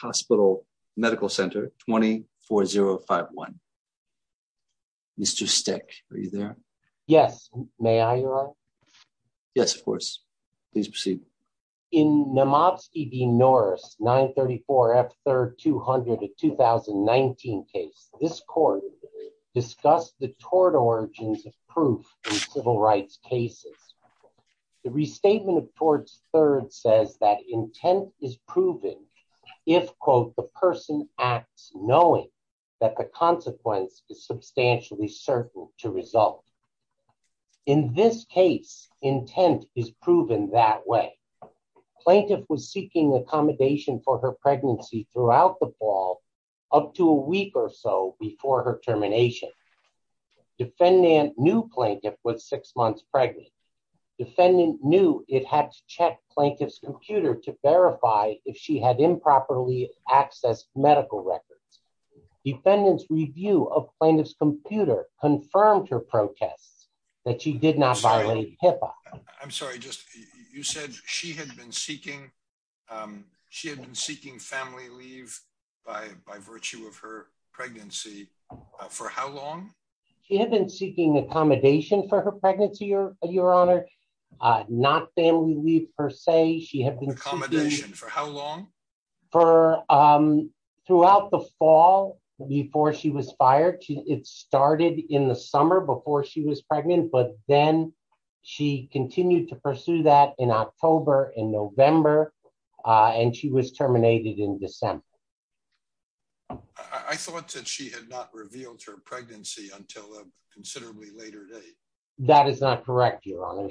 Hospital Medical Center, 24051. Mr. Steck, are you there? Yes. May I, Your Honor? Yes, of course. Please proceed. In Namovsky v. Norris, 934F3200, a 2019 case, this court discussed the tort origins of proof in civil rights cases. The restatement of torts third says that intent is proven if, quote, the person acts knowing that the consequence is substantially certain to result. In this case, intent is proven that way. Plaintiff was seeking accommodation for her pregnancy throughout the fall, up to a week or so before her termination. Defendant knew plaintiff was six months pregnant. Defendant knew it had to check plaintiff's computer to verify if she had improperly accessed medical records. Defendant's review of plaintiff's computer confirmed her protests that she did not violate HIPAA. I'm sorry. You said she had been seeking family leave by virtue of her pregnancy. For how long? She had been seeking accommodation for her pregnancy, Your Honor, not family leave per se. Accommodation. For how long? For throughout the fall before she was fired. It started in the summer before she was pregnant. But then she continued to pursue that in October and November and she was terminated in December. I thought that she had not revealed her pregnancy until a considerably later date. That is not correct, Your Honor.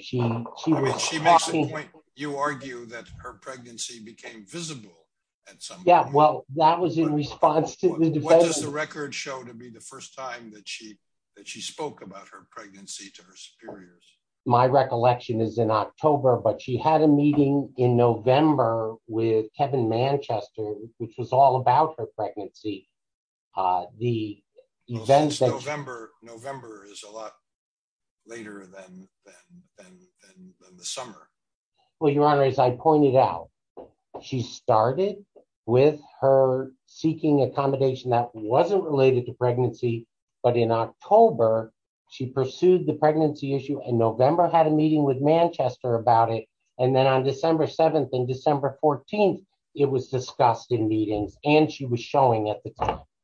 You argue that her pregnancy became visible at some point. Yeah, well, that was in response to the defense. What does the record show to be the first time that she that she spoke about her pregnancy to her superiors? My recollection is in October, but she had a meeting in November with Kevin Manchester, which was all about her pregnancy. The November is a lot later than the summer. Well, Your Honor, as I pointed out, she started with her seeking accommodation that wasn't related to pregnancy. But in October, she pursued the pregnancy issue in November, had a meeting with Manchester about it. And then on December 7th and December 14th, it was discussed in meetings and she was showing it.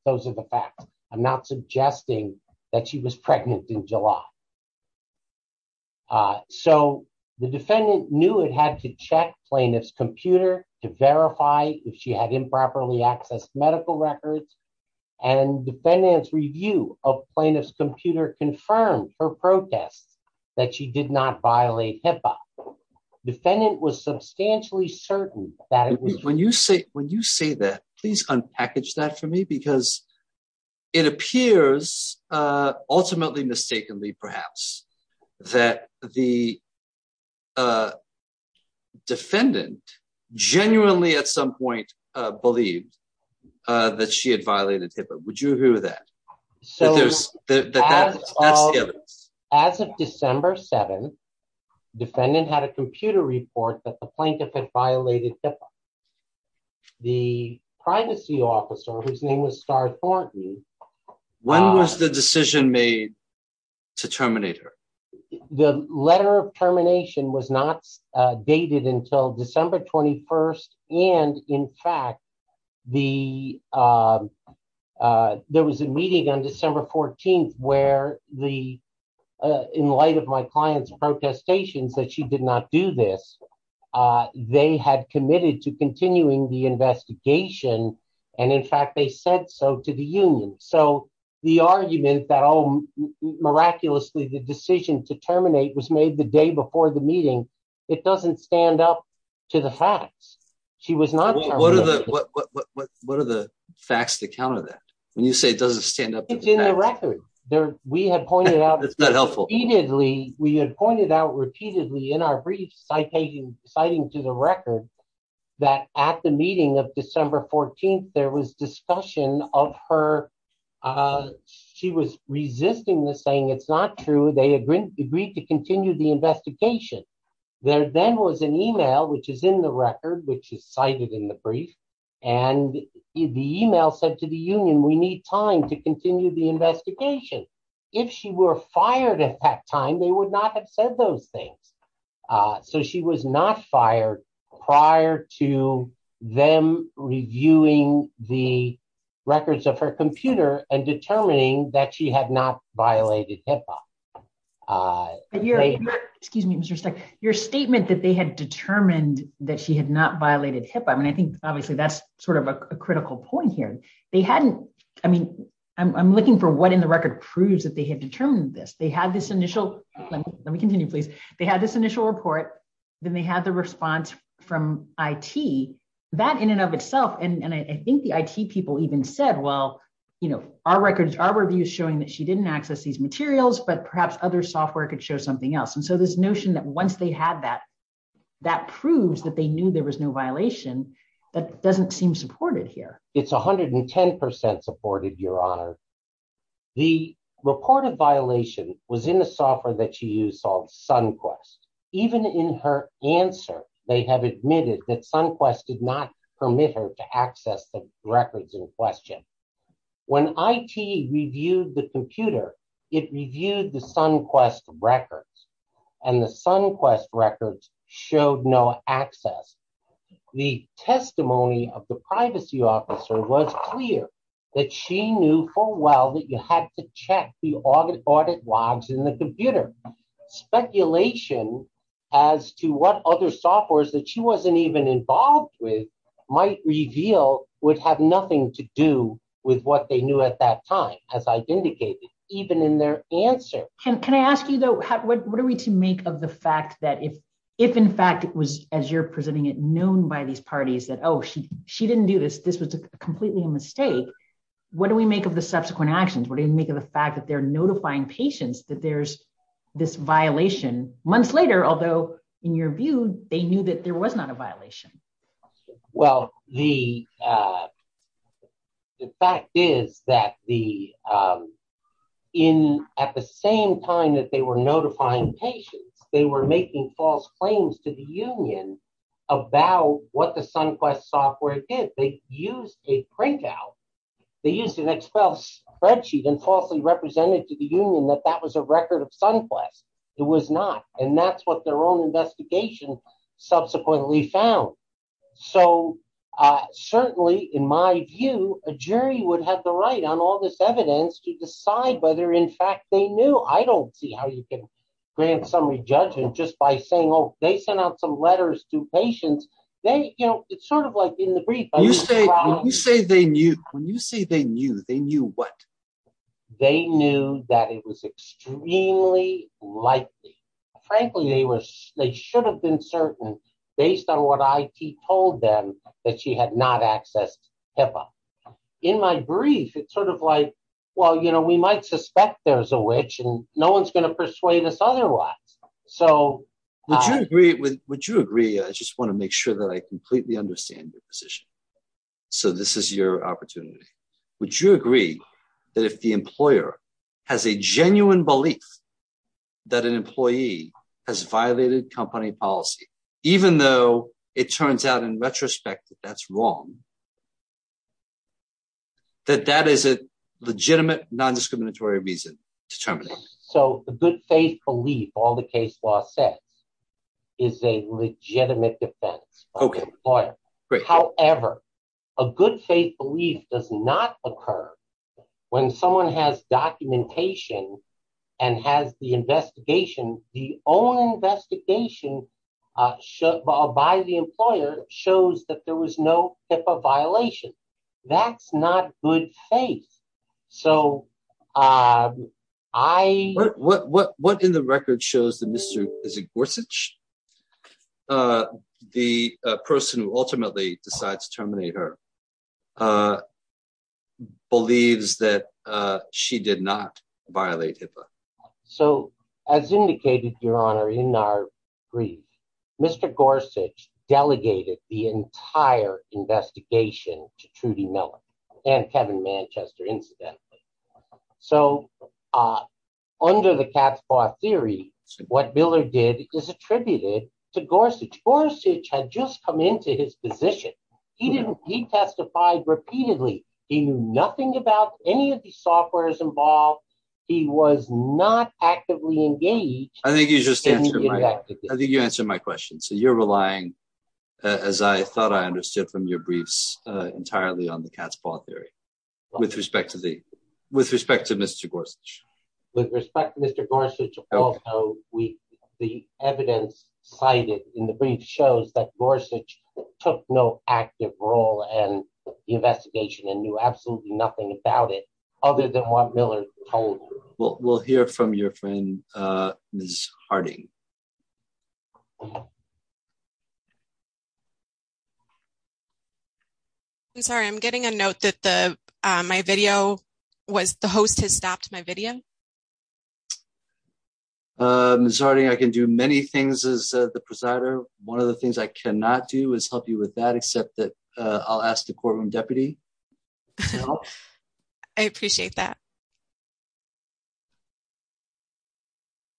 Those are the facts. I'm not suggesting that she was pregnant in July. So the defendant knew it had to check plaintiff's computer to verify if she had improperly accessed medical records. And defendants review of plaintiff's computer confirmed her protests that she did not violate HIPAA. Defendant was substantially certain that when you say when you say that, please unpackage that for me, because it appears ultimately, mistakenly, perhaps that the. Defendant genuinely at some point believed that she had violated HIPAA. Would you agree with that? So as of December 7th, defendant had a computer report that the plaintiff had violated HIPAA. The privacy officer, whose name was Star Thornton. When was the decision made to terminate her? The letter of termination was not dated until December 21st. And in fact, the there was a meeting on December 14th where the in light of my client's protestations that she did not do this. They had committed to continuing the investigation. And in fact, they said so to the union. So the argument that miraculously the decision to terminate was made the day before the meeting. It doesn't stand up to the facts. She was not. What are the facts that counter that when you say it doesn't stand up? It's in the record there. We have pointed out. It's not helpful. We had pointed out repeatedly in our brief citing citing to the record that at the meeting of December 14th, there was discussion of her. She was resisting the saying it's not true. They agreed to continue the investigation. There then was an email which is in the record, which is cited in the brief. And the email said to the union, we need time to continue the investigation. If she were fired at that time, they would not have said those things. So she was not fired prior to them reviewing the records of her computer and determining that she had not violated HIPAA. Your excuse me, Mr. Your statement that they had determined that she had not violated HIPAA. I mean, I think obviously that's sort of a critical point here. They hadn't. I mean, I'm looking for what in the record proves that they have determined this. They had this initial let me continue, please. They had this initial report. Then they had the response from I.T. that in and of itself. And I think the I.T. people even said, well, you know, our records, our reviews showing that she didn't access these materials, but perhaps other software could show something else. And so this notion that once they had that, that proves that they knew there was no violation. That doesn't seem supported here. It's one hundred and ten percent supported, Your Honor. The reported violation was in the software that she used called SunQuest. Even in her answer, they have admitted that SunQuest did not permit her to access the records in question. When I.T. reviewed the computer, it reviewed the SunQuest records and the SunQuest records showed no access. The testimony of the privacy officer was clear that she knew full well that you had to check the audit logs in the computer. Speculation as to what other softwares that she wasn't even involved with might reveal would have nothing to do with what they knew at that time, as I've indicated, even in their answer. Can I ask you, though, what are we to make of the fact that if if in fact it was, as you're presenting it, known by these parties that, oh, she she didn't do this, this was completely a mistake. What do we make of the subsequent actions? What do you make of the fact that they're notifying patients that there's this violation months later? Although in your view, they knew that there was not a violation. Well, the fact is that the in at the same time that they were notifying patients, they were making false claims to the union about what the SunQuest software did. They used a printout. They used an Excel spreadsheet and falsely represented to the union that that was a record of SunQuest. It was not. And that's what their own investigation subsequently found. So certainly, in my view, a jury would have the right on all this evidence to decide whether, in fact, they knew. I don't see how you can grant summary judgment just by saying, oh, they sent out some letters to patients. They you know, it's sort of like in the brief. You say you say they knew when you say they knew they knew what? They knew that it was extremely likely. Frankly, they were they should have been certain based on what I told them that she had not accessed HIPAA. In my brief, it's sort of like, well, you know, we might suspect there's a witch and no one's going to persuade us otherwise. So would you agree? Would you agree? I just want to make sure that I completely understand your position. So this is your opportunity. Would you agree that if the employer has a genuine belief that an employee has violated company policy, even though it turns out in retrospect that that's wrong. That that is a legitimate, non-discriminatory reason to terminate. So the good faith belief, all the case law says is a legitimate defense lawyer. However, a good faith belief does not occur when someone has documentation and has the investigation. The own investigation by the employer shows that there was no HIPAA violation. That's not good faith. So I. What what what in the record shows the Mr. Gorsuch? The person who ultimately decides to terminate her. Believes that she did not violate HIPAA. So as indicated, Your Honor, in our brief, Mr. Gorsuch delegated the entire investigation to Trudy Miller and Kevin Manchester, incidentally. So under the theory, what Miller did is attributed to Gorsuch. Gorsuch had just come into his position. He didn't. He testified repeatedly. He knew nothing about any of the softwares involved. He was not actively engaged. I think you just answered. I think you answered my question. So you're relying, as I thought I understood from your briefs entirely on the cat's paw theory with respect to the with respect to Mr. Gorsuch. With respect to Mr. Gorsuch, we the evidence cited in the brief shows that Gorsuch took no active role and the investigation and knew absolutely nothing about it other than what Miller told. Well, we'll hear from your friend, Ms. Harding. I'm sorry, I'm getting a note that the my video was the host has stopped my video. Ms. Harding, I can do many things as the presider. One of the things I cannot do is help you with that, except that I'll ask the courtroom deputy. I appreciate that.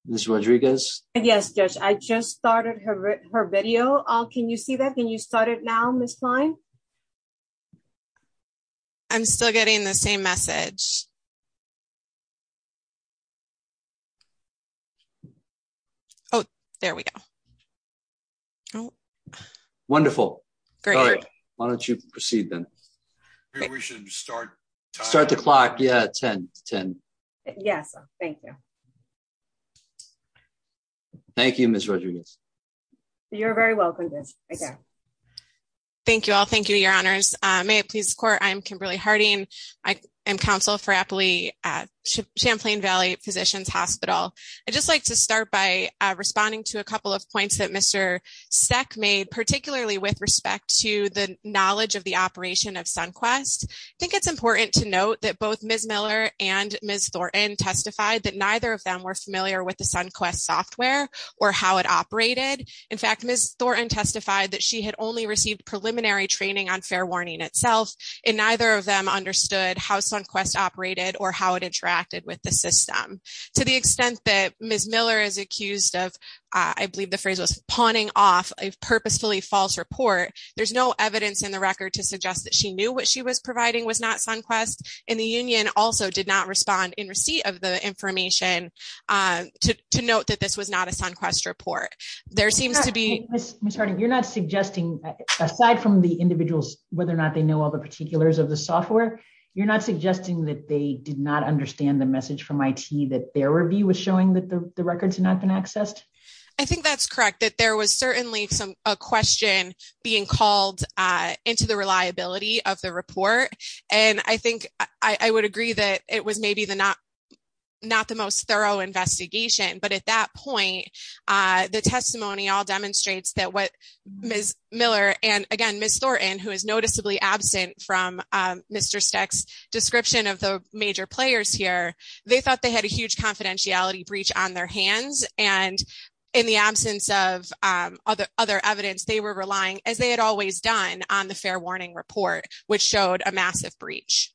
Ms. Rodriguez. Yes, I just started her video. Can you see that? Can you start it now, Ms. Klein? I'm still getting the same message. Oh, there we go. Wonderful. Great. Why don't you proceed then. Start the clock. Yeah, 1010. Yes, thank you. Thank you, Ms. Rodriguez. You're very welcome. Thank you all. Thank you, Your Honors. May it please court. I'm Kimberly Harding. I am counsel for happily at Champlain Valley Physicians Hospital. I just like to start by responding to a couple of points that Mr. SEC made, particularly with respect to the knowledge of the operation of SunQuest. I think it's important to note that both Miss Miller and Miss Thornton testified that neither of them were familiar with the SunQuest software or how it operated. In fact, Miss Thornton testified that she had only received preliminary training on fair warning itself. And neither of them understood how SunQuest operated or how it interacted with the system to the extent that Miss Miller is accused of. I believe the phrase was pawning off a purposefully false report. There's no evidence in the record to suggest that she knew what she was providing was not SunQuest. And the union also did not respond in receipt of the information to note that this was not a SunQuest report. There seems to be. Miss Harding, you're not suggesting, aside from the individuals, whether or not they know all the particulars of the software, you're not suggesting that they did not understand the message from IT that their review was showing that the records had not been accessed? I think that's correct, that there was certainly a question being called into the reliability of the report. And I think I would agree that it was maybe the not not the most thorough investigation. But at that point, the testimony all demonstrates that what Miss Miller and again, Miss Thornton, who is noticeably absent from Mr. Steck's description of the major players here, they thought they had a huge confidentiality breach on their hands. And in the absence of other other evidence, they were relying, as they had always done on the fair warning report, which showed a massive breach.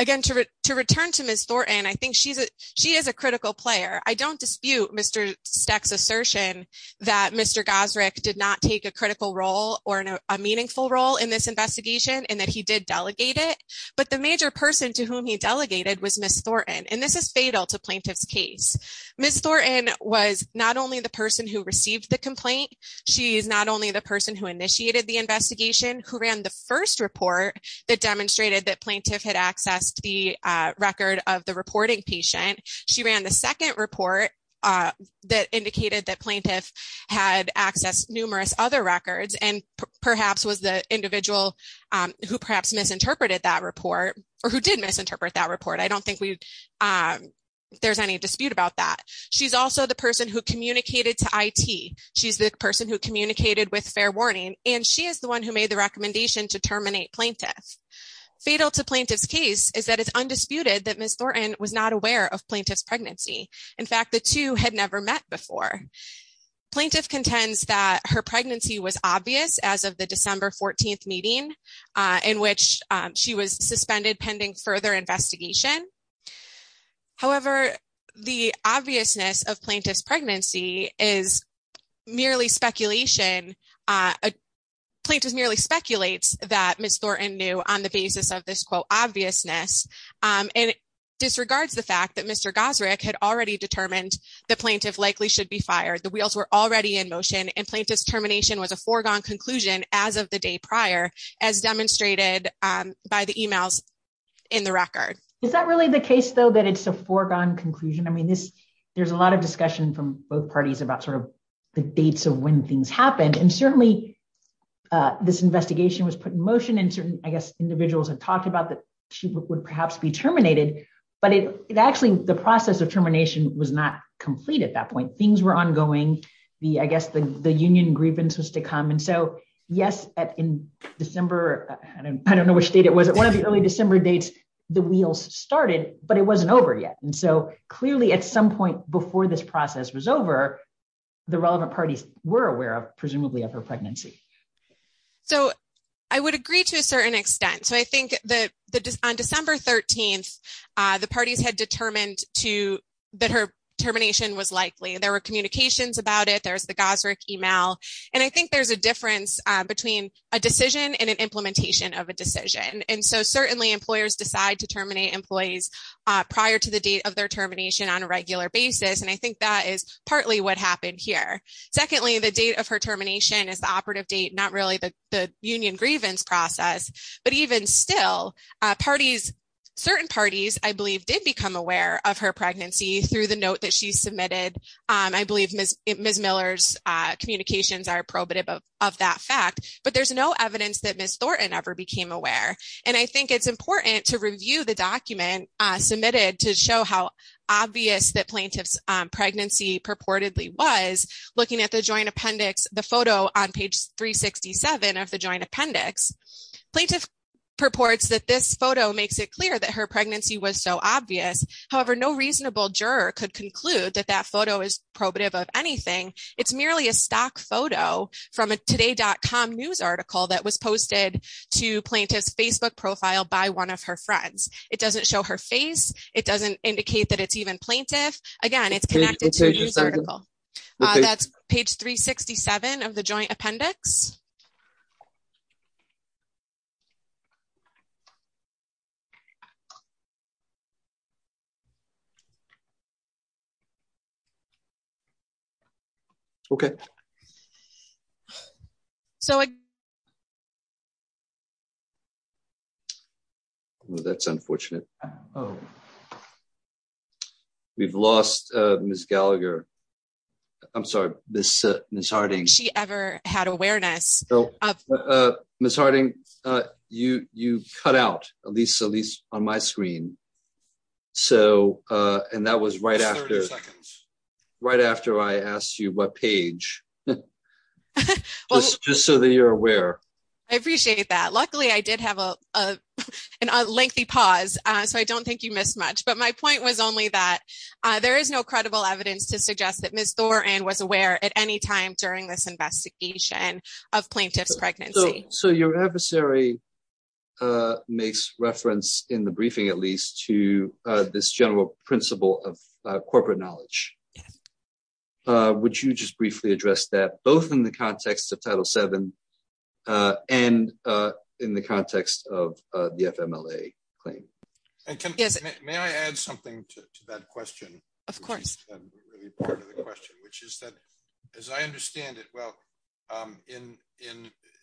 Again, to return to Miss Thornton, I think she's she is a critical player. I don't dispute Mr. Steck's assertion that Mr. Gosrick did not take a critical role or a meaningful role in this investigation and that he did delegate it. But the major person to whom he delegated was Miss Thornton. And this is fatal to plaintiff's case. Miss Thornton was not only the person who received the complaint. She is not only the person who initiated the investigation, who ran the first report that demonstrated that plaintiff had accessed the record of the reporting patient. She ran the second report that indicated that plaintiff had accessed numerous other records and perhaps was the individual who perhaps misinterpreted that report or who did misinterpret that report. I don't think there's any dispute about that. She's also the person who communicated to IT. She's the person who communicated with fair warning, and she is the one who made the recommendation to terminate plaintiff. Fatal to plaintiff's case is that it's undisputed that Miss Thornton was not aware of plaintiff's pregnancy. In fact, the two had never met before. Plaintiff contends that her pregnancy was obvious as of the December 14th meeting in which she was suspended pending further investigation. However, the obviousness of plaintiff's pregnancy is merely speculation. Plaintiff merely speculates that Miss Thornton knew on the basis of this, quote, obviousness and disregards the fact that Mr. Gosrick had already determined the plaintiff likely should be fired. The wheels were already in motion, and plaintiff's termination was a foregone conclusion as of the day prior as demonstrated by the emails in the record. Is that really the case, though, that it's a foregone conclusion? I mean, there's a lot of discussion from both parties about sort of the dates of when things happened. And certainly this investigation was put in motion and certain, I guess, individuals had talked about that she would perhaps be terminated. But it actually the process of termination was not complete at that point. Things were ongoing. I guess the union grievance was to come. And so, yes, in December, I don't know which date it was, at one of the early December dates, the wheels started, but it wasn't over yet. And so clearly at some point before this process was over, the relevant parties were aware of, presumably, of her pregnancy. So I would agree to a certain extent. So I think that on December 13th, the parties had determined that her termination was likely. There were communications about it. There's the Gosrick email. And I think there's a difference between a decision and an implementation of a decision. And so certainly employers decide to terminate employees prior to the date of their termination on a regular basis. And I think that is partly what happened here. Secondly, the date of her termination is the operative date, not really the union grievance process. But even still, certain parties, I believe, did become aware of her pregnancy through the note that she submitted. I believe Ms. Miller's communications are probative of that fact, but there's no evidence that Ms. Thornton ever became aware. And I think it's important to review the document submitted to show how obvious the plaintiff's pregnancy purportedly was. Looking at the joint appendix, the photo on page 367 of the joint appendix, plaintiff purports that this photo makes it clear that her pregnancy was so obvious. However, no reasonable juror could conclude that that photo is probative of anything. It's merely a stock photo from a Today.com news article that was posted to plaintiff's Facebook profile by one of her friends. It doesn't show her face. It doesn't indicate that it's even plaintiff. Again, it's connected to a news article. That's page 367 of the joint appendix. Okay. That's unfortunate. We've lost Ms. Gallagher. I'm sorry, Ms. Harding. She ever had awareness. Ms. Harding, you cut out, at least on my screen. So, and that was right after I asked you what page. Just so that you're aware. I appreciate that. Luckily, I did have a lengthy pause, so I don't think you missed much. But my point was only that there is no credible evidence to suggest that Ms. Thornton was aware at any time during this investigation of plaintiff's pregnancy. So your adversary makes reference in the briefing, at least, to this general principle of corporate knowledge. Would you just briefly address that, both in the context of Title VII and in the context of the FMLA claim? May I add something to that question? Of course. As I understand it, well,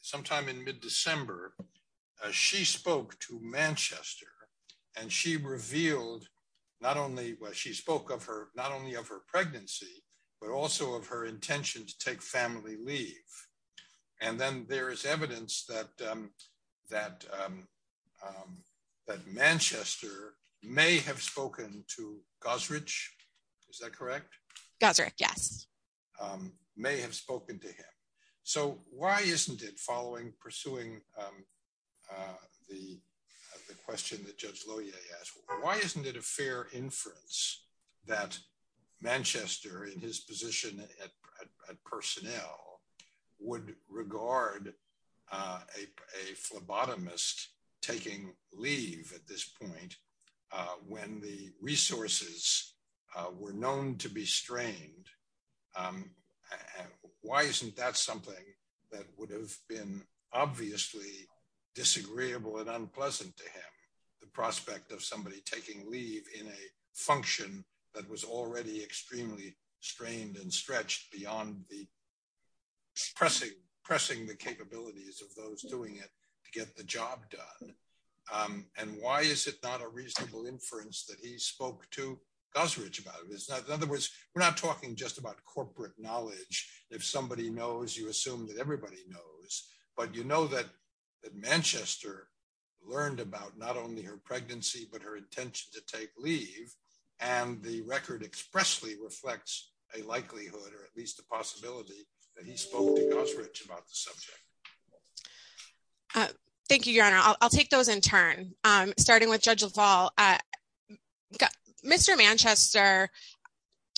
sometime in mid-December, she spoke to Manchester. And she revealed not only, well, she spoke of her, not only of her pregnancy, but also of her intention to take family leave. And then there is evidence that Manchester may have spoken to Gosrich. Is that correct? Gosrich, yes. May have spoken to him. So why isn't it following, pursuing the question that Judge Lohier asked, why isn't it a fair inference that Manchester, in his position at personnel, would regard a phlebotomist taking leave at this point when the resources were known to be strained? Why isn't that something that would have been obviously disagreeable and unpleasant to him, the prospect of somebody taking leave in a function that was already extremely strained and stretched beyond the pressing the capabilities of those doing it to get the job done? And why is it not a reasonable inference that he spoke to Gosrich about it? In other words, we're not talking just about corporate knowledge. If somebody knows, you assume that everybody knows. But you know that Manchester learned about not only her pregnancy, but her intention to take leave. And the record expressly reflects a likelihood, or at least a possibility, that he spoke to Gosrich about the subject. Thank you, Your Honor. I'll take those in turn. Starting with Judge LaValle. Mr. Manchester,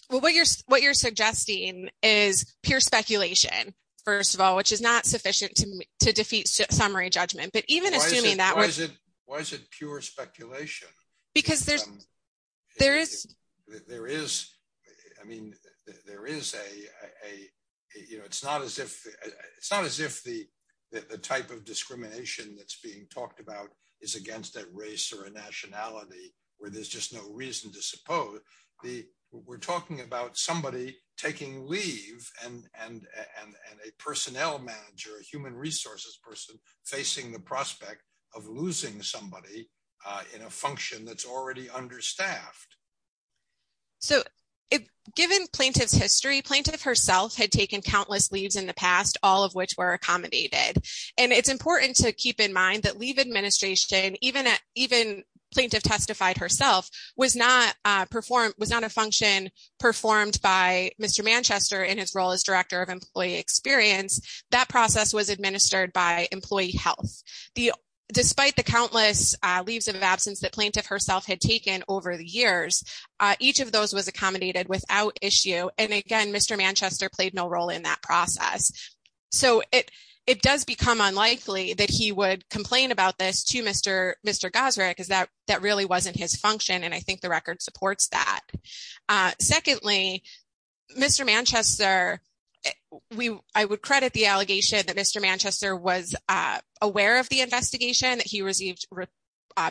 what you're suggesting is pure speculation, first of all, which is not sufficient to defeat summary judgment. But even assuming that... Why is it pure speculation? Because there's... There is... It's not as if the type of discrimination that's being talked about is against a race or a nationality where there's just no reason to suppose. We're talking about somebody taking leave and a personnel manager, a human resources person, facing the prospect of losing somebody in a function that's already understaffed. So, given plaintiff's history, plaintiff herself had taken countless leaves in the past, all of which were accommodated. And it's important to keep in mind that leave administration, even plaintiff testified herself, was not a function performed by Mr. Manchester in his role as director of employee experience. That process was administered by employee health. Despite the countless leaves of absence that plaintiff herself had taken over the years, each of those was accommodated without issue. And again, Mr. Manchester played no role in that process. So, it does become unlikely that he would complain about this to Mr. Gosrick because that really wasn't his function. And I think the record supports that. Secondly, Mr. Manchester, I would credit the allegation that Mr. Manchester was aware of the investigation, that he received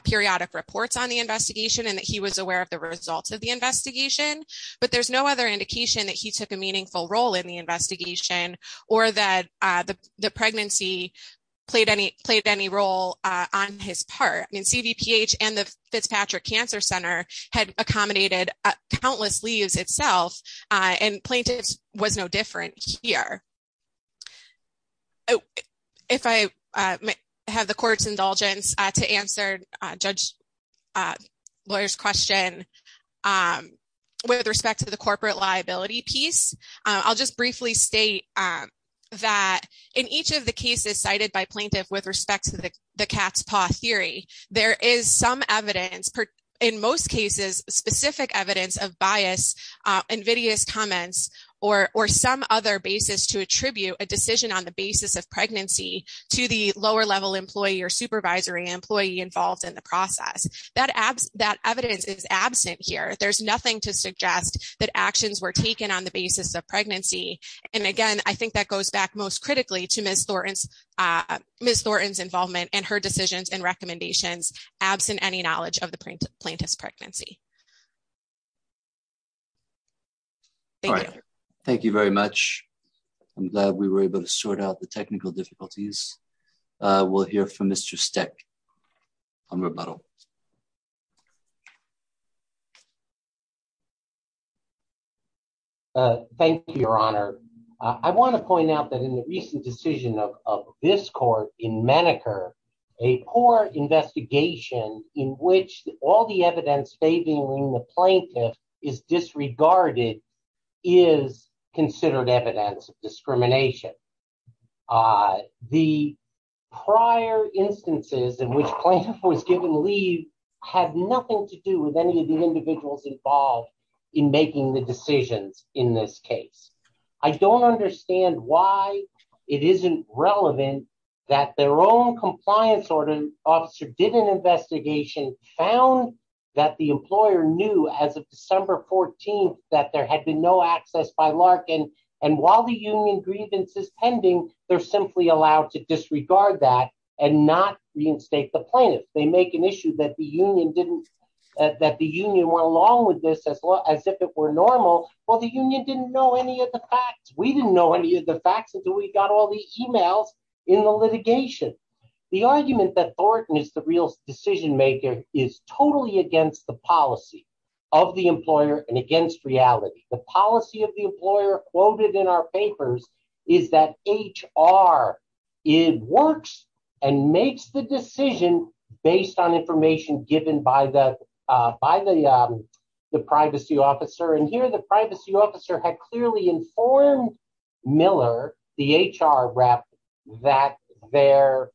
periodic reports on the investigation, and that he was aware of the results of the investigation. But there's no other indication that he took a meaningful role in the investigation or that the pregnancy played any role on his part. CVPH and the Fitzpatrick Cancer Center had accommodated countless leaves itself, and plaintiff was no different here. If I have the court's indulgence to answer Judge Lawyer's question with respect to the corporate liability piece, I'll just briefly state that in each of the cases cited by plaintiff with respect to the cat's paw theory, there is some evidence, in most cases, specific evidence of bias, invidious comments, or some other basis to attribute a decision on the basis of pregnancy to the lower-level employee or supervisory employee involved in the process. That evidence is absent here. There's nothing to suggest that actions were taken on the basis of pregnancy. And again, I think that goes back most critically to Ms. Thornton's involvement and her decisions and recommendations, absent any knowledge of the plaintiff's pregnancy. Thank you. Thank you very much. I'm glad we were able to sort out the technical difficulties. We'll hear from Mr. Steck on rebuttal. Thank you, Your Honor. I want to point out that in the recent decision of this court in Maneker, a poor investigation in which all the evidence favoring the plaintiff is disregarded is considered evidence of discrimination. The prior instances in which plaintiff was given leave had nothing to do with any of the individuals involved in making the decisions in this case. I don't understand why it isn't relevant that their own compliance officer did an investigation, found that the employer knew as of December 14th that there had been no access by Larkin, and while the union grievance is pending, they're simply allowed to disregard that and not reinstate the plaintiff. They make an issue that the union went along with this as if it were normal. Well, the union didn't know any of the facts. We didn't know any of the facts until we got all the emails in the litigation. The argument that Thornton is the real decision maker is totally against the policy of the employer and against reality. The policy of the employer quoted in our papers is that HR works and makes the decision based on information given by the privacy officer. And here the privacy officer had clearly informed Miller, the HR rep, that the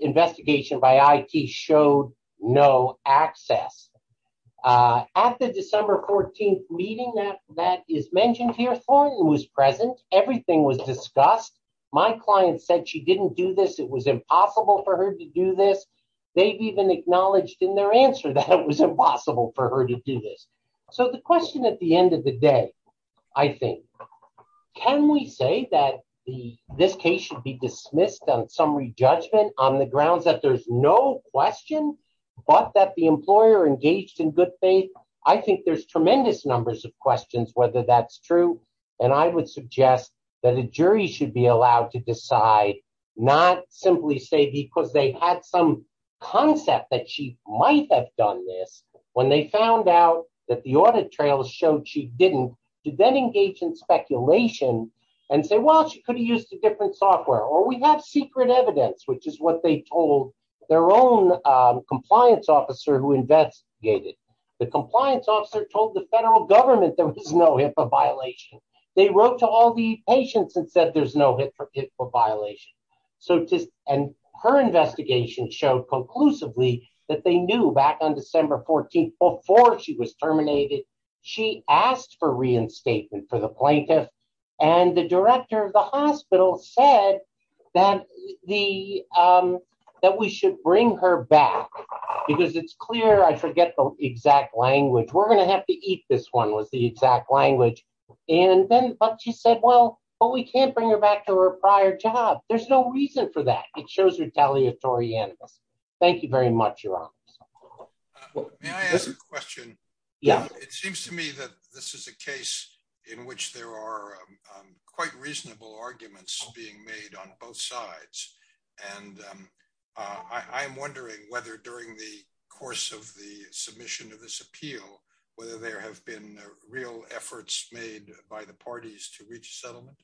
investigation by IT showed no access. At the December 14th meeting that is mentioned here, Thornton was present. Everything was discussed. My client said she didn't do this. It was impossible for her to do this. They've even acknowledged in their answer that it was impossible for her to do this. So the question at the end of the day, I think, can we say that this case should be dismissed on summary judgment on the grounds that there's no question but that the employer engaged in good faith? I think there's tremendous numbers of questions whether that's true. And I would suggest that a jury should be allowed to decide not simply say because they had some concept that she might have done this when they found out that the audit trail showed she didn't, to then engage in speculation and say, well, she could have used a different software. Or we have secret evidence, which is what they told their own compliance officer who investigated. The compliance officer told the federal government there was no HIPAA violation. They wrote to all the patients and said there's no HIPAA violation. And her investigation showed conclusively that they knew back on December 14th, before she was terminated, she asked for reinstatement for the plaintiff. And the director of the hospital said that we should bring her back because it's clear. I forget the exact language. We're going to have to eat this one was the exact language. And then she said, well, but we can't bring her back to her prior job. There's no reason for that. It shows retaliatory animals. Thank you very much, Your Honor. Question. Yeah, it seems to me that this is a case in which there are quite reasonable arguments being made on both sides. And I am wondering whether during the course of the submission of this appeal, whether there have been real efforts made by the parties to reach settlement.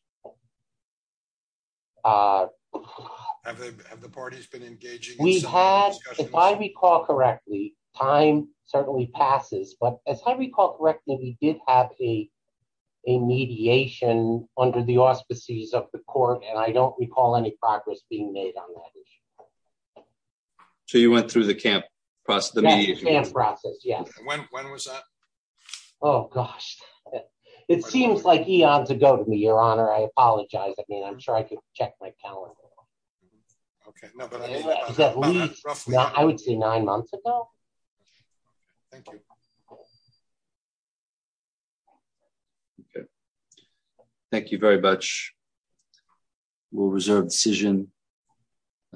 Have the parties been engaging? We had, if I recall correctly, time certainly passes. But as I recall correctly, we did have a mediation under the auspices of the court. And I don't recall any progress being made on that. So you went through the camp process, the mediation process? Yes. When was that? Oh, gosh. It seems like eons ago to me, Your Honor. I apologize. I mean, I'm sure I could check my calendar. OK, no, but I would say nine months ago. Thank you. Thank you very much. We'll reserve decision.